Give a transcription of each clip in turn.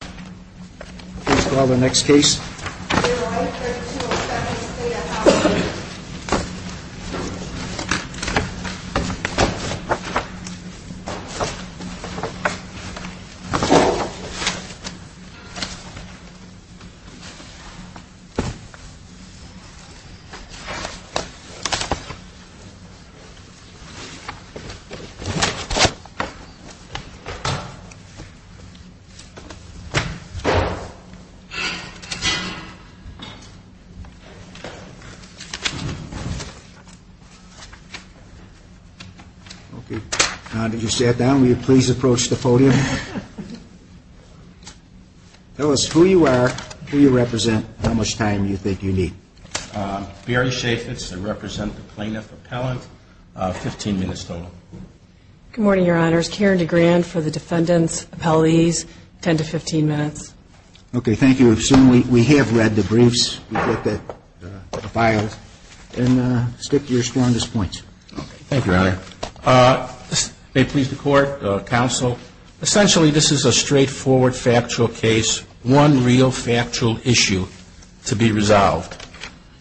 Please call the next case. Please approach the podium. Tell us who you are, who you represent, and how much time you think you need. Barry Shafitz, I represent the plaintiff appellant. Fifteen minutes total. Good morning, Your Honors. Karen DeGrand for the defendants' appellees. Ten to fifteen minutes. Okay, thank you. I assume we have read the briefs. We've looked at the files. And stick to your strongest points. Thank you, Your Honor. May it please the Court, counsel, essentially this is a straightforward factual case, one real factual issue to be resolved.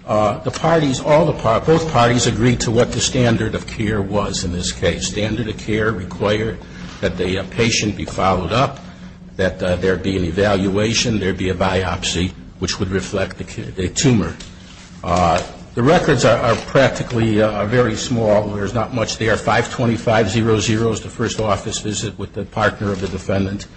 The parties, all the parties, both parties agreed to what the standard of care was in this case. Standard of care required that the patient be followed up, that there be an evaluation, there be a biopsy, which would reflect a tumor. The records are practically very small. There's not much there. 525.00 is the first office visit with the partner of the defendant.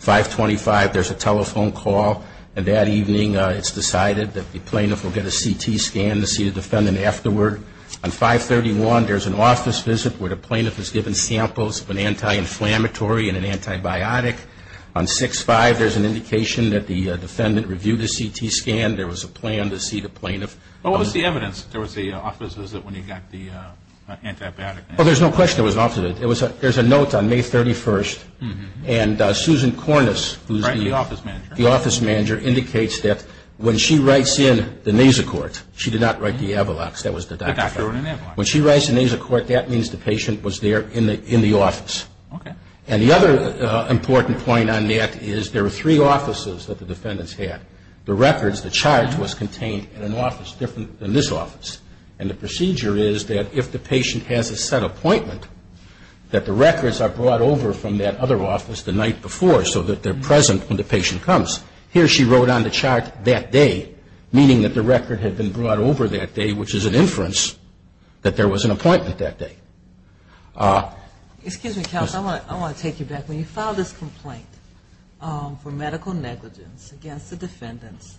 525.00, there's a telephone call, and that evening it's decided that the plaintiff will get a CT scan to see the defendant afterward. On 531.00, there's an office visit where the plaintiff is given samples of an anti-inflammatory and an antibiotic. On 65.00, there's an indication that the defendant reviewed a CT scan. There was a plan to see the plaintiff. What was the evidence? There was the office visit when he got the antibiotic? Well, there's no question there was an office visit. There's a note on May 31st, and Susan Cornis, who's the office manager, indicates that when she writes in the nasocort, she did not write the Avalox, that was the doctor. When she writes the nasocort, that means the patient was there in the office. And the other important point on that is there were three offices that the defendants had. The records, the charge, was contained in an office different than this office. And the procedure is that if the patient has a set appointment, that the records are brought over from that other office the night before so that they're present when the patient comes. Here she wrote on the chart that day, meaning that the record had been brought over that day, which is an inference that there was an appointment that day. Excuse me, counsel, I want to take you back. When you file this complaint for medical negligence against the defendants,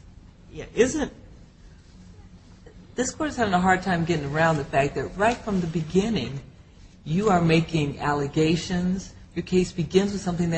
isn't – this court is having a hard time getting around the fact that right from the beginning, you are making allegations. Your case begins with something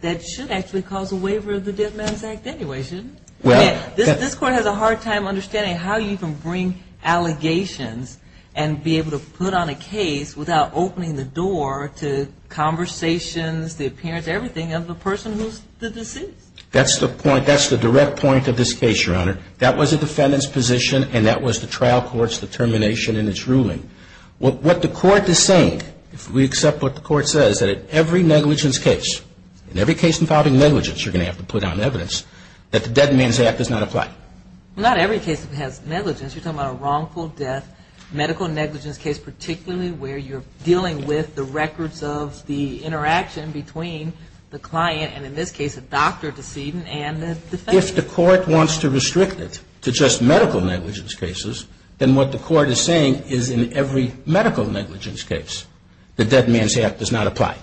that should actually cause a waiver of the Dead Man's Act anyway, shouldn't it? This court has a hard time understanding how you can bring allegations and be able to put on a case without opening the door to conversations, the appearance, everything of the person who's the deceased. That's the point. That's the direct point of this case, Your Honor. That was the defendant's position, and that was the trial court's determination in its ruling. What the court is saying, if we accept what the court says, that at every negligence case, in every case involving negligence, you're going to have to put on evidence that the Dead Man's Act does not apply. Well, not every case has negligence. You're talking about a wrongful death medical negligence case, particularly where you're dealing with the records of the interaction between the client, and in this case, a doctor decedent and the defendant. If the court wants to restrict it to just medical negligence cases, then what the court is saying is in every medical negligence case, the Dead Man's Act does not apply.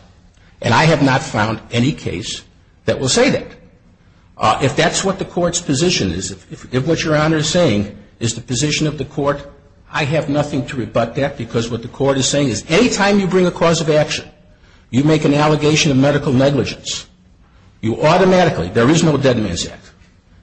And I have not found any case that will say that. If that's what the court's position is, if what Your Honor is saying is the position of the court, I have nothing to rebut that because what the court is saying is any time you bring a cause of action, you make an allegation of medical negligence, you automatically, there is no Dead Man's Act,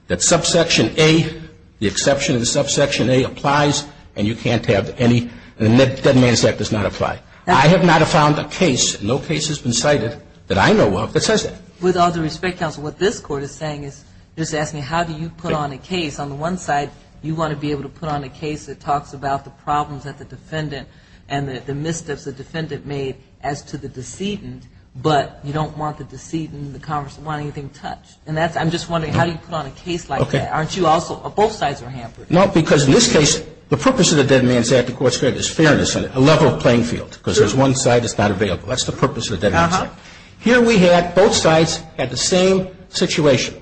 that subsection A, the exception of the subsection A applies, and you can't have any, and the Dead Man's Act does not apply. I have not found a case, no case has been cited that I know of that says that. With all due respect, counsel, what this court is saying is just asking how do you put on a case. On the one side, you want to be able to put on a case that talks about the problems that the defendant and the missteps the defendant made as to the decedent, but you don't want the decedent, the congressman, want anything touched. And that's, I'm just wondering, how do you put on a case like that? Aren't you also, both sides are hampered. No, because in this case, the purpose of the Dead Man's Act, the court said, is fairness, a level playing field, because there's one side that's not available. That's the purpose of the Dead Man's Act. Here we had, both sides had the same situation.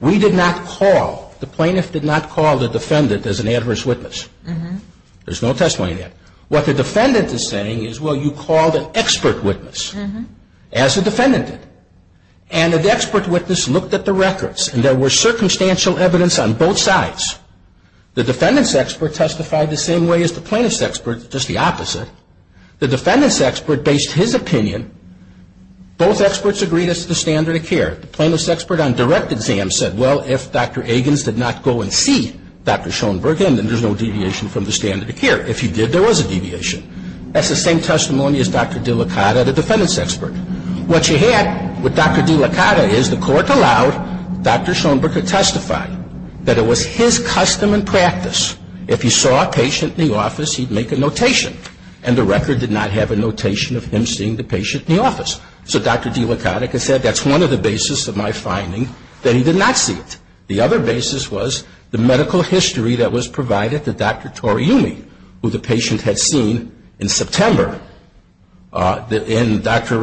We did not call, the plaintiff did not call the defendant as an adverse witness. There's no testimony in that. What the defendant is saying is, well, you called an expert witness, as the defendant did. And the expert witness looked at the records, and there was circumstantial evidence on both sides. The defendant's expert testified the same way as the plaintiff's expert, just the opposite. The defendant's expert based his opinion. Both experts agreed it's the standard of care. The plaintiff's expert on direct exam said, well, if Dr. Agins did not go and see Dr. Schoenberg, then there's no deviation from the standard of care. If he did, there was a deviation. That's the same testimony as Dr. DeLaCotta, the defendant's expert. What you had with Dr. DeLaCotta is the court allowed Dr. Schoenberg to testify that it was his custom and practice, if he saw a patient in the office, he'd make a notation. And the record did not have a notation of him seeing the patient in the office. So Dr. DeLaCotta could say, that's one of the basis of my finding, that he did not see it. The other basis was the medical history that was provided to Dr. Toriumi, who the patient had seen in September. And Dr.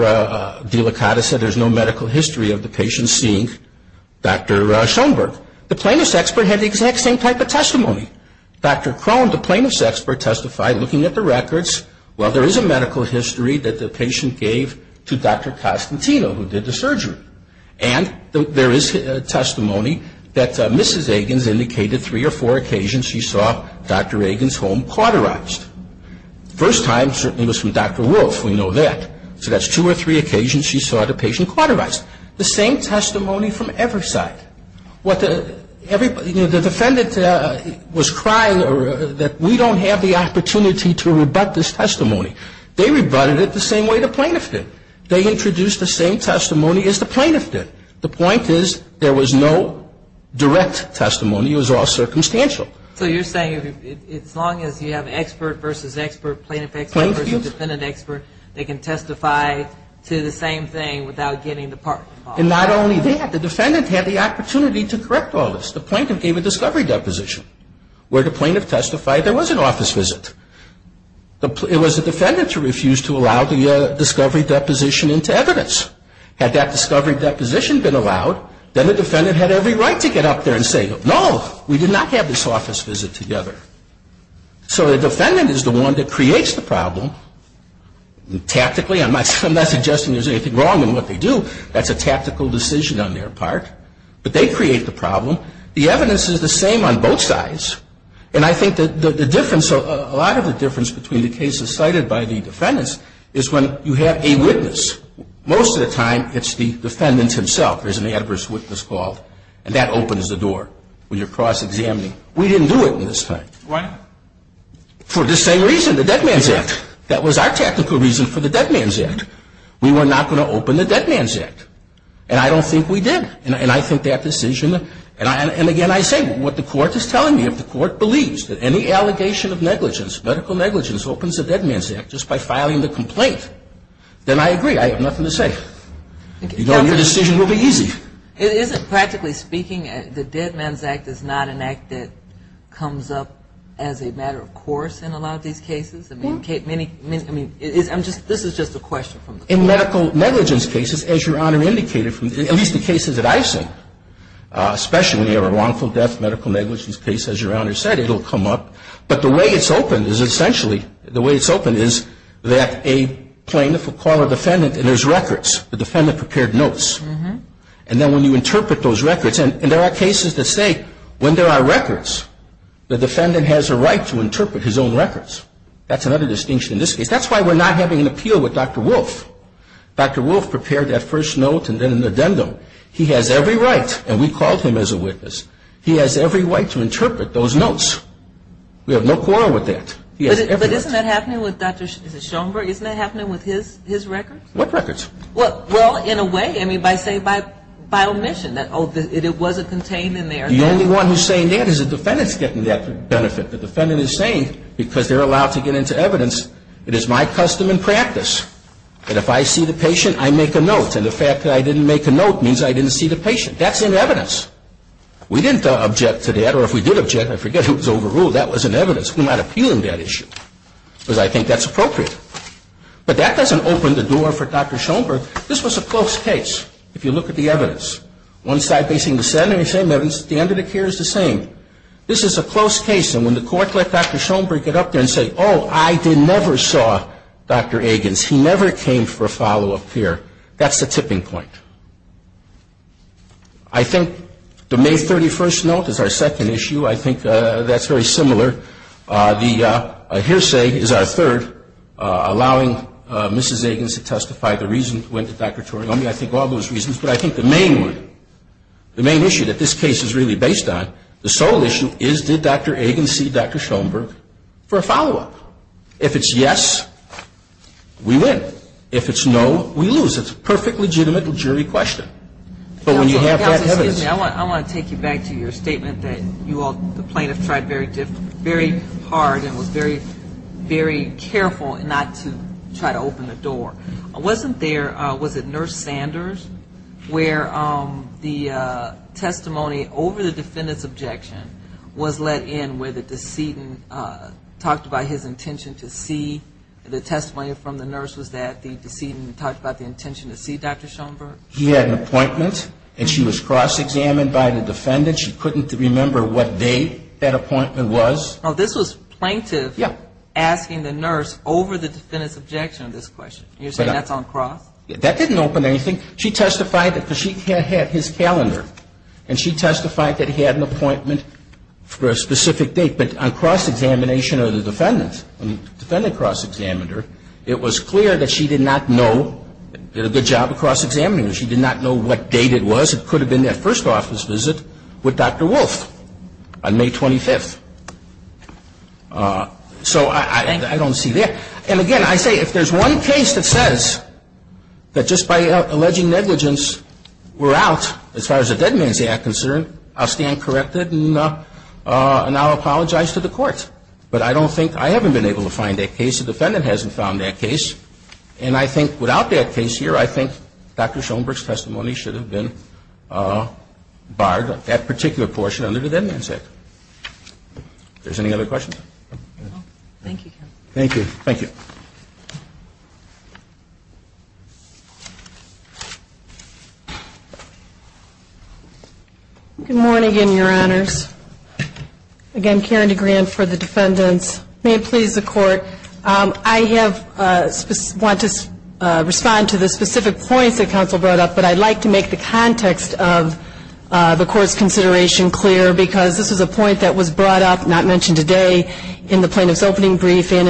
DeLaCotta said there's no medical history of the patient seeing Dr. Schoenberg. The plaintiff's expert had the exact same type of testimony. Dr. Crone, the plaintiff's expert, testified looking at the records, well, there is a medical history that the patient gave to Dr. Costantino, who did the surgery. And there is testimony that Mrs. Egan's indicated three or four occasions she saw Dr. Egan's home cauterized. First time certainly was from Dr. Wolfe, we know that. So that's two or three occasions she saw the patient cauterized. The same testimony from Everside. What the, everybody, you know, the defendant was crying that we don't have the opportunity to rebut this testimony. They rebutted it the same way the plaintiff did. They introduced the same testimony as the plaintiff did. The point is there was no direct testimony. It was all circumstantial. So you're saying as long as you have expert versus expert, plaintiff expert versus defendant expert, they can testify to the same thing without getting the part involved. And not only that. The defendant had the opportunity to correct all this. The plaintiff gave a discovery deposition where the plaintiff testified there was an office visit. It was the defendant who refused to allow the discovery deposition into evidence. Had that discovery deposition been allowed, then the defendant had every right to get up there and say, no, we did not have this office visit together. So the defendant is the one that creates the problem. Tactically, I'm not suggesting there's anything wrong in what they do. That's a tactical decision on their part. But they create the problem. The evidence is the same on both sides. And I think the difference, a lot of the difference between the cases cited by the defendants is when you have a witness. Most of the time, it's the defendant himself. There's an adverse witness called, and that opens the door when you're cross-examining. We didn't do it in this time. Why? For the same reason, the Dead Man's Act. That was our tactical reason for the Dead Man's Act. We were not going to open the Dead Man's Act. And I don't think we did. And I think that decision, and again, I say what the court is telling me. If the court believes that any allegation of negligence, medical negligence, opens the Dead Man's Act just by filing the complaint, then I agree. I have nothing to say. Your decision will be easy. Isn't practically speaking, the Dead Man's Act is not an act that comes up as a matter of course in a lot of these cases? I mean, this is just a question from the court. In medical negligence cases, as Your Honor indicated, at least the cases that I've seen, especially when you have a wrongful death medical negligence case, as Your Honor said, it will come up. But the way it's opened is essentially, the way it's opened is that a plaintiff will call a defendant, and there's records. The defendant prepared notes. And then when you interpret those records, and there are cases that say when there are records, the defendant has a right to interpret his own records. That's another distinction in this case. That's why we're not having an appeal with Dr. Wolf. Dr. Wolf prepared that first note and then an addendum. He has every right, and we called him as a witness, he has every right to interpret those notes. We have no quarrel with that. He has every right. But isn't that happening with Dr. Schoenberg? Isn't that happening with his records? What records? Well, in a way, I mean, by say, by omission. It wasn't contained in there. The only one who's saying that is the defendant's getting that benefit. The defendant is saying, because they're allowed to get into evidence, it is my custom and practice. And if I see the patient, I make a note. And the fact that I didn't make a note means I didn't see the patient. That's in evidence. We didn't object to that. Or if we did object, I forget who was overruled. That was in evidence. We're not appealing that issue, because I think that's appropriate. But that doesn't open the door for Dr. Schoenberg. This was a close case, if you look at the evidence. One side facing the Senate, the same evidence. The under the care is the same. This is a close case. And when the Court let Dr. Schoenberg get up there and say, oh, I never saw Dr. Agins. He never came for a follow-up here. That's the tipping point. I think the May 31st note is our second issue. I think that's very similar. The hearsay is our third, allowing Mrs. Agins to testify. The reason went to Dr. Toriomi. I think all those reasons. But I think the main one, the main issue that this case is really based on, the sole issue is did Dr. Agins see Dr. Schoenberg for a follow-up? If it's yes, we win. If it's no, we lose. It's a perfectly legitimate jury question. But when you have that evidence ---- Counsel, excuse me. I want to take you back to your statement that you all, the plaintiff, tried very hard and was very, very careful not to try to open the door. Wasn't there, was it Nurse Sanders, where the testimony over the defendant's objection was let in, where the decedent talked about his intention to see? The testimony from the nurse was that the decedent talked about the intention to see Dr. Schoenberg? He had an appointment, and she was cross-examined by the defendant. She couldn't remember what date that appointment was. This was plaintiff asking the nurse over the defendant's objection to this question. You're saying that's on cross? That didn't open anything. She testified that she had his calendar, and she testified that he had an appointment for a specific date. But on cross-examination of the defendant, the defendant cross-examined her, it was clear that she did not know ---- did a good job of cross-examining her. She did not know what date it was. It could have been that first office visit with Dr. Wolf on May 25th. So I don't see that. And again, I say if there's one case that says that just by alleging negligence we're out, as far as the Dead Man's Act is concerned, I'll stand corrected and I'll apologize to the Court. But I don't think ---- I haven't been able to find that case. The defendant hasn't found that case. And I think without that case here, I think Dr. Schoenberg's testimony should have been barred, that particular portion under the Dead Man's Act. If there's any other questions. Thank you, counsel. Thank you. Thank you. Good morning, Your Honors. Again, Karen DeGrand for the defendants. May it please the Court, I have ---- want to respond to the specific points that counsel brought up, but I'd like to make the context of the Court's consideration clear because this is a point that was brought up, not mentioned today, in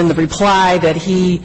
the reply that he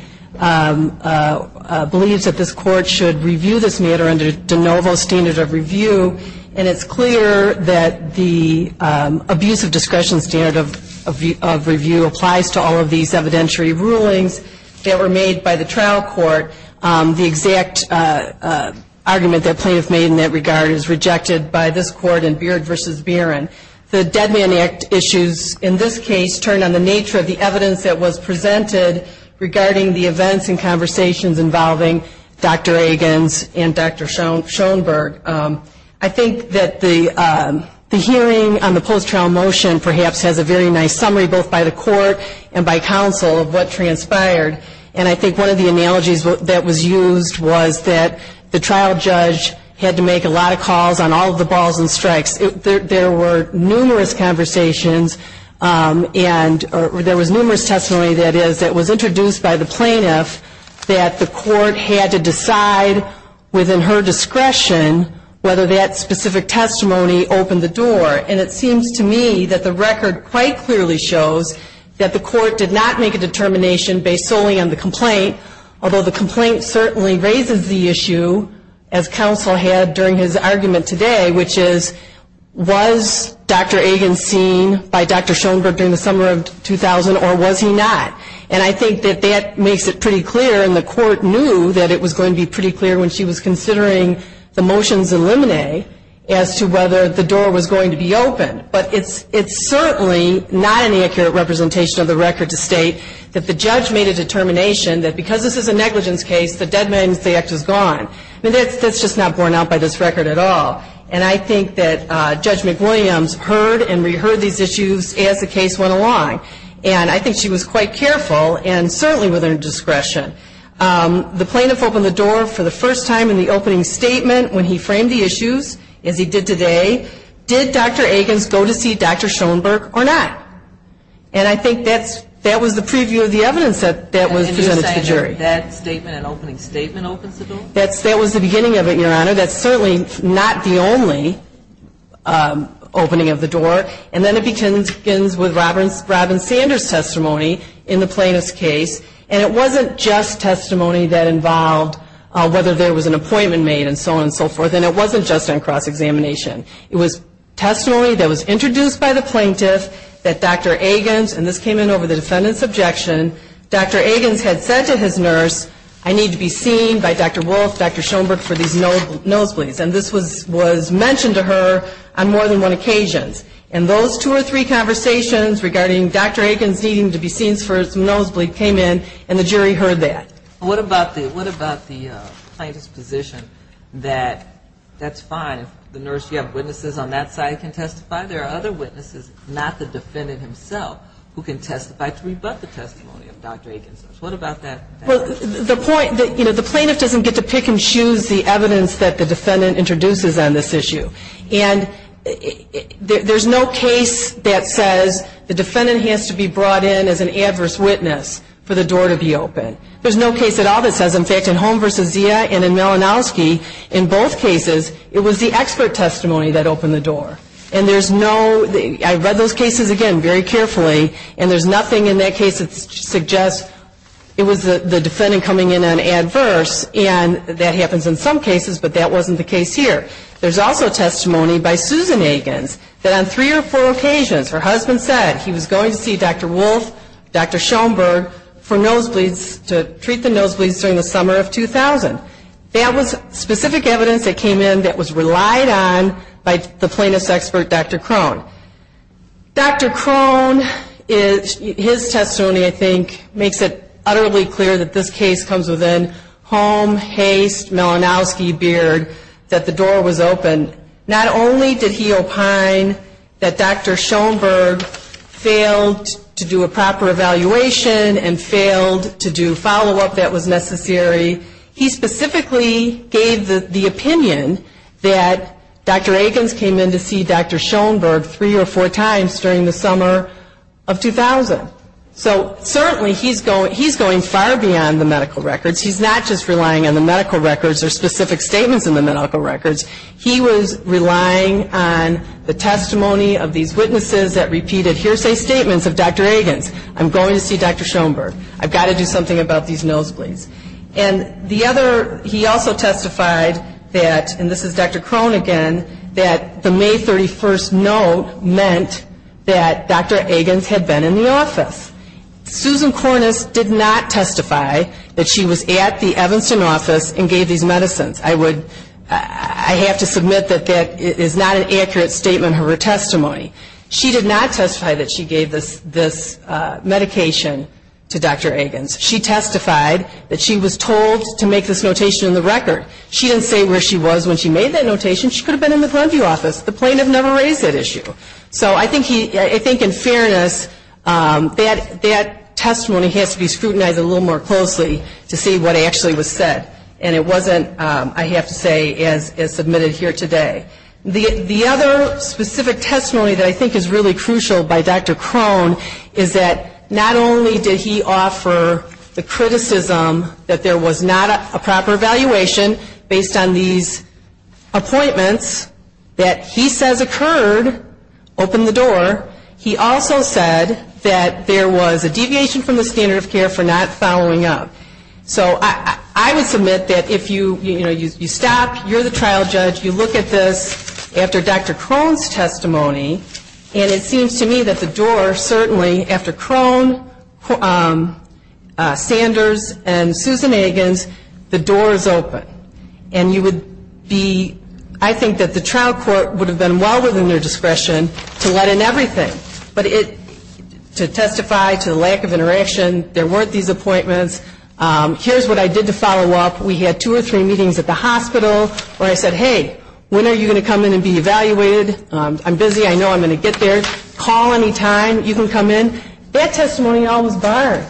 believes that this Court should review this matter under De Novo standard of review. And it's clear that the abuse of discretion standard of review applies to all of these evidentiary rulings that were made by the trial court. The exact argument that plaintiffs made in that regard is rejected by this Court in Beard v. Barron. The Dead Man's Act issues in this case turned on the nature of the evidence that was presented regarding the events and conversations involving Dr. Agins and Dr. Schoenberg. I think that the hearing on the post-trial motion perhaps has a very nice summary, both by the Court and by counsel, of what transpired. And I think one of the analogies that was used was that the trial judge had to make a lot of calls on all of the balls and strikes. There were numerous conversations and there was numerous testimony, that is, that was introduced by the plaintiff that the Court had to decide within her discretion whether that specific testimony opened the door. And it seems to me that the record quite clearly shows that the Court did not make a determination based solely on the complaint, although the complaint certainly raises the issue, as counsel had during his argument today, which is was Dr. Agins seen by Dr. Schoenberg during the summer of 2000 or was he not? And I think that that makes it pretty clear, and the Court knew that it was going to be pretty clear when she was considering the motions in Limine as to whether the door was going to be opened. But it's certainly not an accurate representation of the record to state that the judge made a determination that because this is a negligence case, the Dead Man's Act is gone. I mean, that's just not borne out by this record at all. And I think that Judge McWilliams heard and reheard these issues as the case went along, and I think she was quite careful and certainly within her discretion. The plaintiff opened the door for the first time in the opening statement when he framed the issues, as he did today. Did Dr. Agins go to see Dr. Schoenberg or not? And I think that was the preview of the evidence that was presented to the jury. And you're saying that that statement, an opening statement, opens the door? That was the beginning of it, Your Honor. That's certainly not the only opening of the door. And then it begins with Robin Sanders' testimony in the plaintiff's case. And it wasn't just testimony that involved whether there was an appointment made and so on and so forth, and it wasn't just on cross-examination. It was testimony that was introduced by the plaintiff that Dr. Agins, and this came in over the defendant's objection, Dr. Agins had said to his nurse, I need to be seen by Dr. Wolf, Dr. Schoenberg for these nosebleeds. And this was mentioned to her on more than one occasion. And those two or three conversations regarding Dr. Agins needing to be seen for his nosebleed came in, and the jury heard that. What about the plaintiff's position that that's fine if the nurse, you have witnesses on that side who can testify? There are other witnesses, not the defendant himself, who can testify to rebut the testimony of Dr. Agins. What about that? Well, the point, you know, the plaintiff doesn't get to pick and choose the evidence that the defendant introduces on this issue. And there's no case that says the defendant has to be brought in as an adverse witness for the door to be open. There's no case at all that says, in fact, in Holm v. Zia and in Malinowski, in both cases, it was the expert testimony that opened the door. And there's no, I read those cases again very carefully, and there's nothing in that case that suggests it was the defendant coming in on adverse, and that happens in some cases, but that wasn't the case here. There's also testimony by Susan Agins that on three or four occasions her husband said he was going to see Dr. Wolfe, Dr. Schoenberg, for nosebleeds, to treat the nosebleeds during the summer of 2000. That was specific evidence that came in that was relied on by the plaintiff's expert, Dr. Krohn. Dr. Krohn, his testimony, I think, makes it utterly clear that this case comes within Holm, Haste, Malinowski, Beard, that the door was open. Not only did he opine that Dr. Schoenberg failed to do a proper evaluation and failed to do follow-up that was necessary, he specifically gave the statement three or four times during the summer of 2000. So certainly he's going far beyond the medical records. He's not just relying on the medical records or specific statements in the medical records. He was relying on the testimony of these witnesses that repeated hearsay statements of Dr. Agins, I'm going to see Dr. Schoenberg, I've got to do something about these nosebleeds. And the other, he also testified that, and this is Dr. Krohn again, that the May 31st note meant that Dr. Agins had been in the office. Susan Kornis did not testify that she was at the Evanston office and gave these medicines. I have to submit that that is not an accurate statement of her testimony. She did not testify that she gave this medication to Dr. Agins. She testified that she was told to make this notation in the record. She didn't say where she was when she made that notation. She could have been in the Glenview office. The plaintiff never raised that issue. So I think in fairness, that testimony has to be scrutinized a little more closely to see what actually was said. And it wasn't, I have to say, as submitted here today. The other specific testimony that I think is really crucial by Dr. Krohn is that not only did he offer the criticism that there was not a proper evaluation based on these appointments that he says occurred, open the door, he also said that there was a deviation from the standard of care for not following up. So I would submit that if you stop, you're the trial judge, you look at this after Dr. Krohn's testimony, and it seems to me that the door is open, and you would be, I think that the trial court would have been well within their discretion to let in everything. But to testify to the lack of interaction, there weren't these appointments, here's what I did to follow up. We had two or three meetings at the hospital where I said, hey, when are you going to come in and be evaluated? I'm busy, I know I'm going to get there. Call any time, you can come in. That testimony all was barred.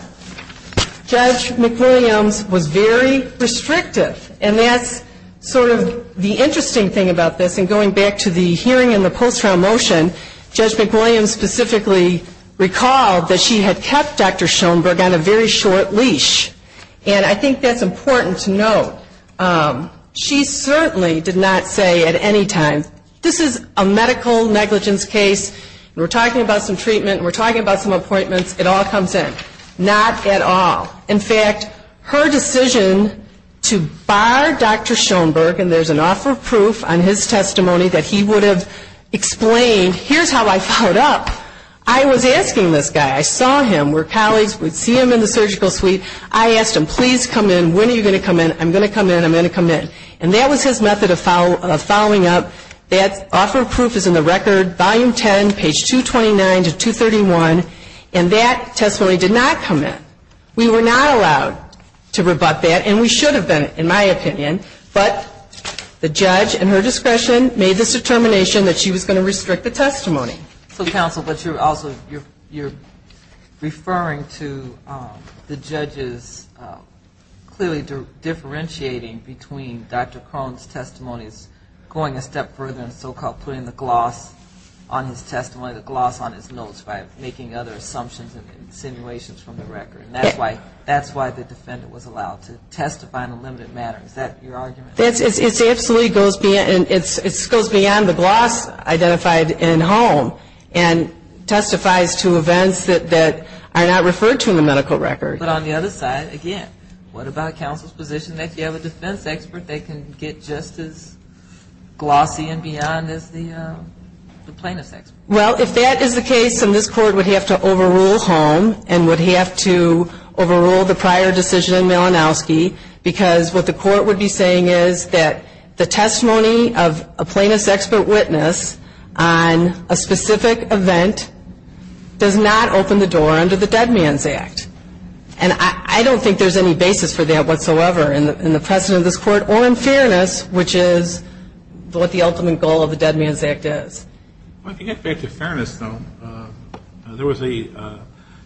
Judge McWilliams was very restrictive. And that's sort of the interesting thing about this, and going back to the hearing and the post-trial motion, Judge McWilliams specifically recalled that she had kept Dr. Schoenberg on a very short leash. And I think that's important to note. She certainly did not say at any time, this is a medical negligence case, and we're talking about some treatment, and we're talking about some appointments, it all comes in. Not at all. In fact, her decision to bar Dr. Schoenberg, and there's an offer of proof on his testimony that he would have explained, here's how I followed up. I was asking this guy. I saw him, we're colleagues, we'd see him in the surgical suite. I asked him, please come in, when are you going to come in? I'm going to come in, I'm going to come in. And that was his method of following up. That offer of proof is in the record, volume 10, page 229 to 231. And that testimony did not come in. We were not allowed to rebut that, and we should have been, in my opinion. But the judge, in her discretion, made this determination that she was going to restrict the testimony. So, counsel, but you're also, you're referring to the judges clearly differentiating between Dr. Krohn's testimonies, going a step further and so-called putting the gloss on his testimony, the gloss on his notes by making other assumptions and insinuations from the record. And that's why the defendant was allowed to testify in a limited manner. Is that your argument? It absolutely goes beyond, it goes beyond the gloss identified in Holm and testifies to events that are not referred to in the medical record. But on the other side, again, what about counsel's position that if you have a defense expert, they can get just as glossy and beyond as the plaintiff's expert? Well, if that is the case, then this Court would have to overrule Holm and would have to overrule the prior decision in Malinowski, because what the Court would be saying is that the testimony of a plaintiff's expert witness on a specific event does not open the door under the Dead Man's Act. And I don't think there's any basis for that whatsoever in the precedent of this Court or in fairness, which is what the ultimate goal of the Dead Man's Act is. Well, to get back to fairness, though, there was a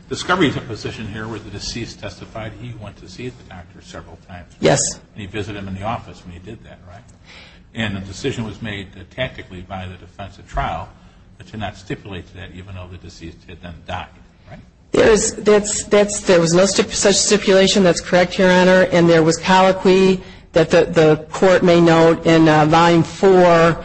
discovery position here where the deceased testified he went to see the doctor several times. Yes. And he visited him in the office when he did that, right? And the decision was made tactically by the defense at trial to not stipulate that, even though the deceased had done the doctor, right? There was no such stipulation. That's correct, Your Honor. And there was colloquy that the Court may note in Volume 4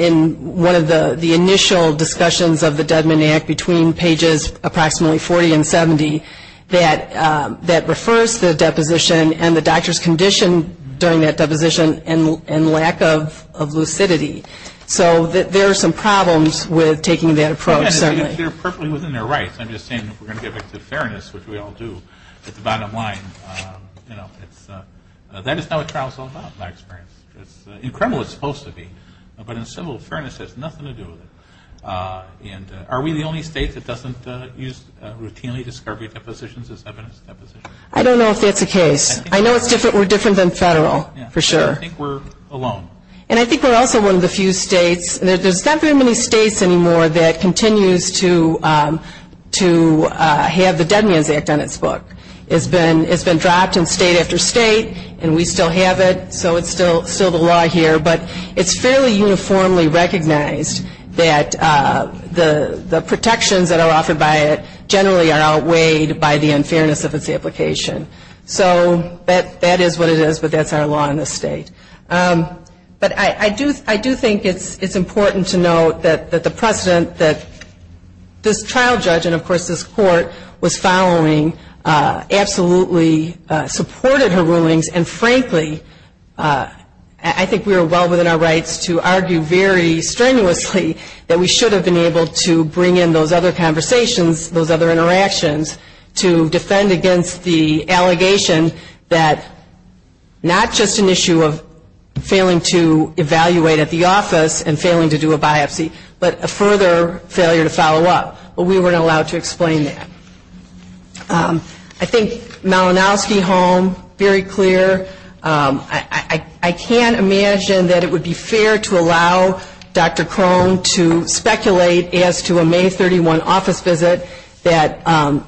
in one of the initial discussions of the Dead Man's Act between pages approximately 40 and 70 that refers to the deposition and the doctor's condition during that deposition and lack of lucidity. So there are some problems with taking that approach, certainly. They're perfectly within their rights. I'm just saying if we're going to get back to fairness, which we all do at the bottom line, you know, that is not what trial is all about, in my experience. In criminal it's supposed to be, but in civil fairness it has nothing to do with it. And are we the only state that doesn't use routinely discovery depositions as evidence depositions? I don't know if that's the case. I know we're different than Federal, for sure. I think we're alone. And I think we're also one of the few states, there's not very many states anymore that continues to have the Dead Man's Act on its book. It's been dropped in state after state, and we still have it, so it's still the law here. But it's fairly uniformly recognized that the protections that are offered by it generally are outweighed by the unfairness of its application. So that is what it is, but that's our law in this state. But I do think it's important to note that the precedent that this trial judge and, of course, this court was following absolutely supported her rulings, and frankly, I think we are well within our rights to argue very strenuously that we should have been able to bring in those other conversations, those other questions, and not only were we failing to evaluate at the office and failing to do a biopsy, but a further failure to follow up. But we weren't allowed to explain that. I think Malinowski home, very clear. I can't imagine that it would be fair to allow Dr. Crone to speculate as to a May 31 office visit that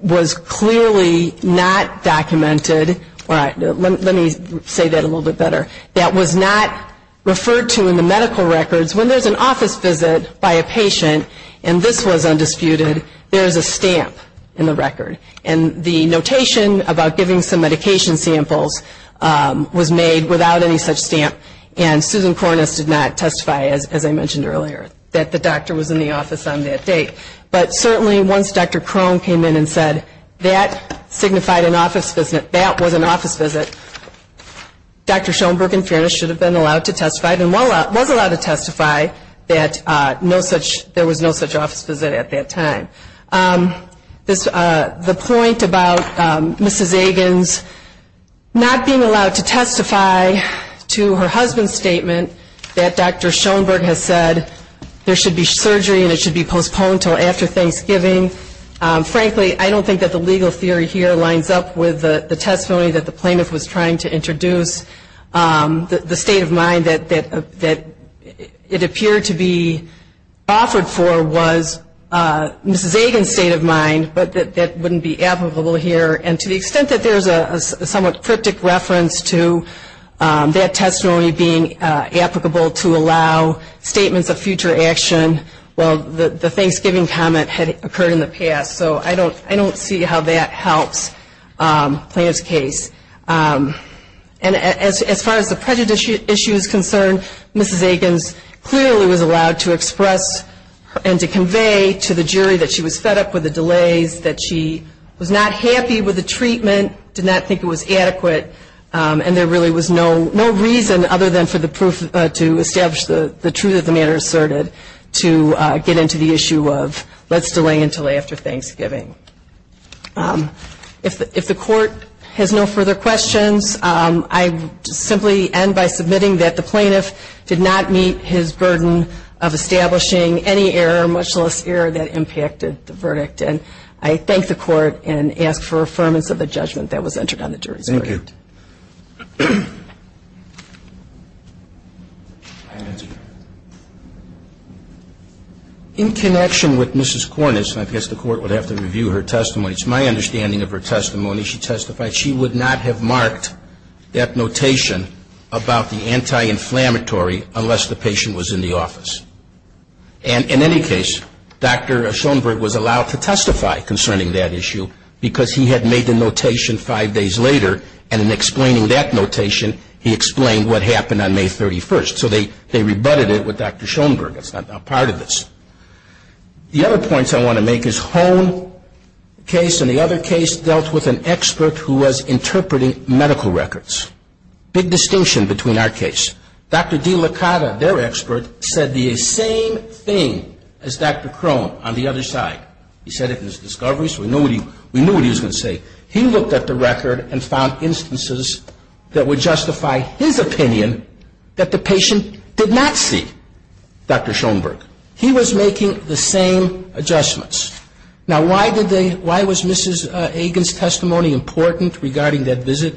was clearly not documented. Let me say that a little bit better, that was not referred to in the medical records. When there's an office visit by a patient and this was undisputed, there's a stamp in the record. And the notation about giving some medication samples was made without any such stamp, and Susan Kornis did not testify, as I mentioned earlier, that the doctor was in the office on that date. But certainly once Dr. Crone came in and said that signified an office visit, that was an office visit, Dr. Schoenberg in fairness should have been allowed to testify and was allowed to testify that no such, there was no such office visit at that time. The point about Mrs. Agans not being allowed to testify to her husband's statement that Dr. Schoenberg has said there should be surgery and it should be postponed until after Thanksgiving. Frankly, I don't think that the legal theory here lines up with the testimony that the plaintiff was trying to introduce. The state of mind that it appeared to be offered for was Mrs. Agans' state of mind, but that wouldn't be applicable here. And to the extent that there's a somewhat cryptic reference to that testimony being applicable to allow statements of future action, well, the Thanksgiving comment had occurred in the past, so I don't see how that helps the plaintiff's case. And as far as the prejudice issue is concerned, Mrs. Agans clearly was allowed to express and to convey to the jury that she was fed up with the delays, that she was not happy with the treatment, did not think it was adequate, and there really was no reason other than for the proof to establish the truth of the matter asserted to get into the issue of let's delay until after Thanksgiving. If the Court has no further questions, I simply end by submitting that the plaintiff did not meet his burden of establishing any error, much less error, that impacted the verdict. And I thank the Court and ask for affirmance of the judgment that was entered into the case. Thank you. Thank you. In connection with Mrs. Cornish, and I guess the Court would have to review her testimony, it's my understanding of her testimony, she testified she would not have marked that notation about the anti-inflammatory unless the patient was in the office. And in any case, Dr. Schoenberg was allowed to testify concerning that issue because he had made the notation five days later, and in explaining that notation, he explained what happened on May 31st. So they rebutted it with Dr. Schoenberg. That's not part of this. The other points I want to make is Hone case and the other case dealt with an expert who was interpreting medical records. Big distinction between our case. Dr. DeLaCotta, their expert, said the same thing as Dr. Crone on the other side. He said it in his discovery, so we knew what he was going to say. He looked at the record and found instances that would justify his opinion that the patient did not see Dr. Schoenberg. He was making the same adjustments. Now, why was Mrs. Agin's testimony important regarding that visit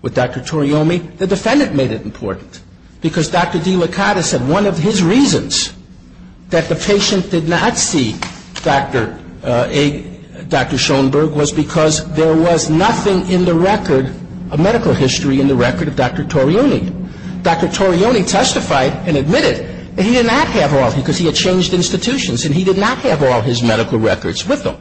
with Dr. Toriomi? The defendant made it important because Dr. DeLaCotta said one of his reasons that the patient did not see Dr. Schoenberg was because there was nothing in the record, a medical history in the record of Dr. Toriomi. Dr. Toriomi testified and admitted that he did not have all, because he had changed institutions, and he did not have all his medical records with him.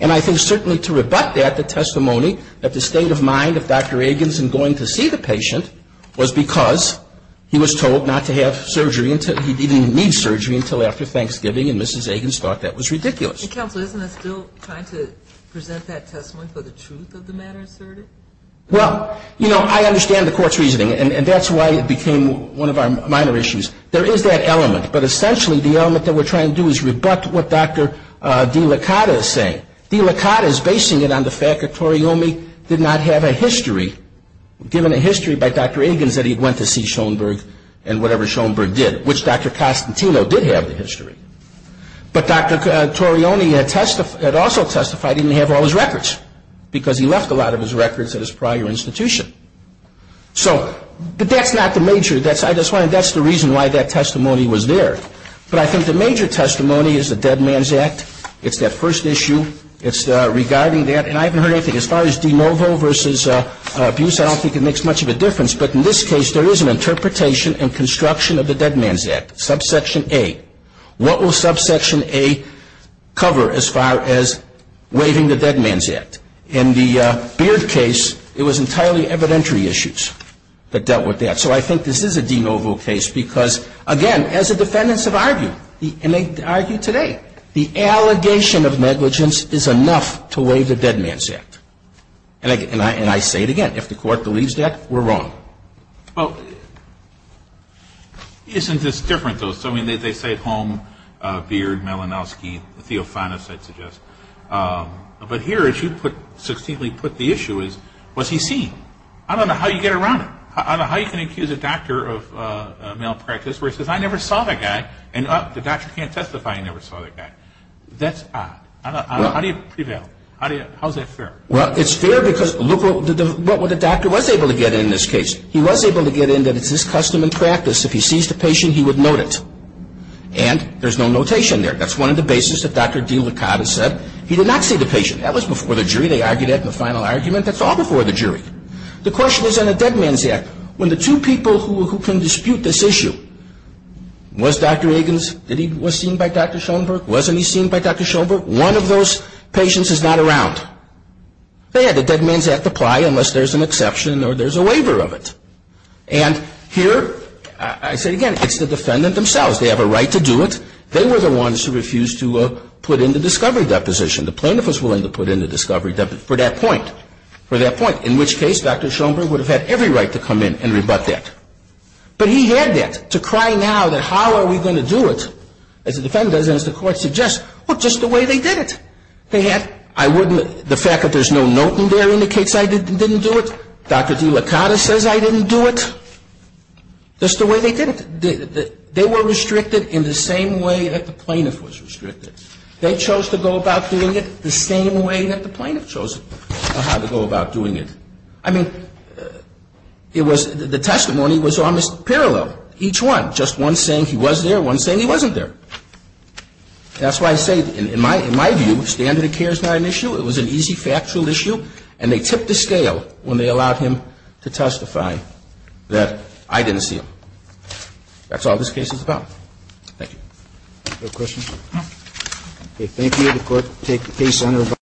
And I think certainly to rebut that, the testimony that the state of mind of Dr. Agin's in going to see the patient was because he was told not to have surgery until he didn't need surgery until after Thanksgiving, and Mrs. Agin's thought that was ridiculous. Counsel, isn't it still trying to present that testimony for the truth of the matter asserted? Well, you know, I understand the Court's reasoning, and that's why it became one of our minor issues. There is that element, but essentially the element that we're trying to do is rebut what Dr. DeLaCotta is saying. DeLaCotta is basing it on the fact that Toriomi did not have a history, given a history by Dr. Agin's that he went to see Schoenberg and whatever Schoenberg did, which Dr. Costantino did have the history. But Dr. Toriomi had also testified he didn't have all his records, because he left a lot of his records at his prior institution. So, but that's not the major, that's the reason why that testimony was there. But I think the major testimony is the Dead Man's Act. It's that first issue. It's regarding that, and I haven't heard anything. As far as de novo versus abuse, I don't think it makes much of a difference. But in this case, there is an interpretation and construction of the Dead Man's Act, subsection A. What will subsection A cover as far as waiving the Dead Man's Act? In the Beard case, it was entirely evidentiary issues that dealt with that. So I think this is a de novo case, because, again, as the defendants have argued, and they argue today, the allegation of negligence is enough to waive the Dead Man's Act. And I say it again, if the Court believes that, we're wrong. Well, isn't this different, though? So, I mean, they say at home, Beard, Malinowski, Theofanis, I'd suggest. But here, as you put, succinctly put the issue is, was he seen? I don't know how you get around it. I don't know how you can accuse a doctor of malpractice where he says, I never saw that guy, and the doctor can't testify he never saw that guy. That's odd. I don't know. How do you prevail? How is that fair? Well, it's fair because look what the doctor was able to get in this case. He was able to get in that it's his custom and practice, if he sees the patient, he would note it. And there's no notation there. That's one of the bases that Dr. DeLaCotta said. He did not see the patient. That was before the jury. They argued it in the final argument. That's all before the jury. The question is, on the Dead Man's Act, when the two people who can dispute this issue, was Dr. Egan's, was he seen by Dr. Schoenberg? Wasn't he seen by Dr. Schoenberg? No. One of those patients is not around. They had the Dead Man's Act apply unless there's an exception or there's a waiver of it. And here, I say again, it's the defendant themselves. They have a right to do it. They were the ones who refused to put in the discovery deposition. The plaintiff was willing to put in the discovery deposition for that point, for that point, in which case Dr. Schoenberg would have had every right to come in and rebut that. But he had that to cry now that how are we going to do it, as the defendant does and as the court suggests? Well, just the way they did it. They had, I wouldn't, the fact that there's no note in there indicates I didn't do it. Dr. DeLaCotta says I didn't do it. Just the way they did it. They were restricted in the same way that the plaintiff was restricted. They chose to go about doing it the same way that the plaintiff chose how to go about doing it. I mean, it was, the testimony was almost parallel, each one. It was not just one saying he was there, one saying he wasn't there. That's why I say, in my view, standard of care is not an issue. It was an easy factual issue. And they tipped the scale when they allowed him to testify that I didn't see him. That's all this case is about. Thank you. No questions? Okay. Thank you. The Court will take the case under review.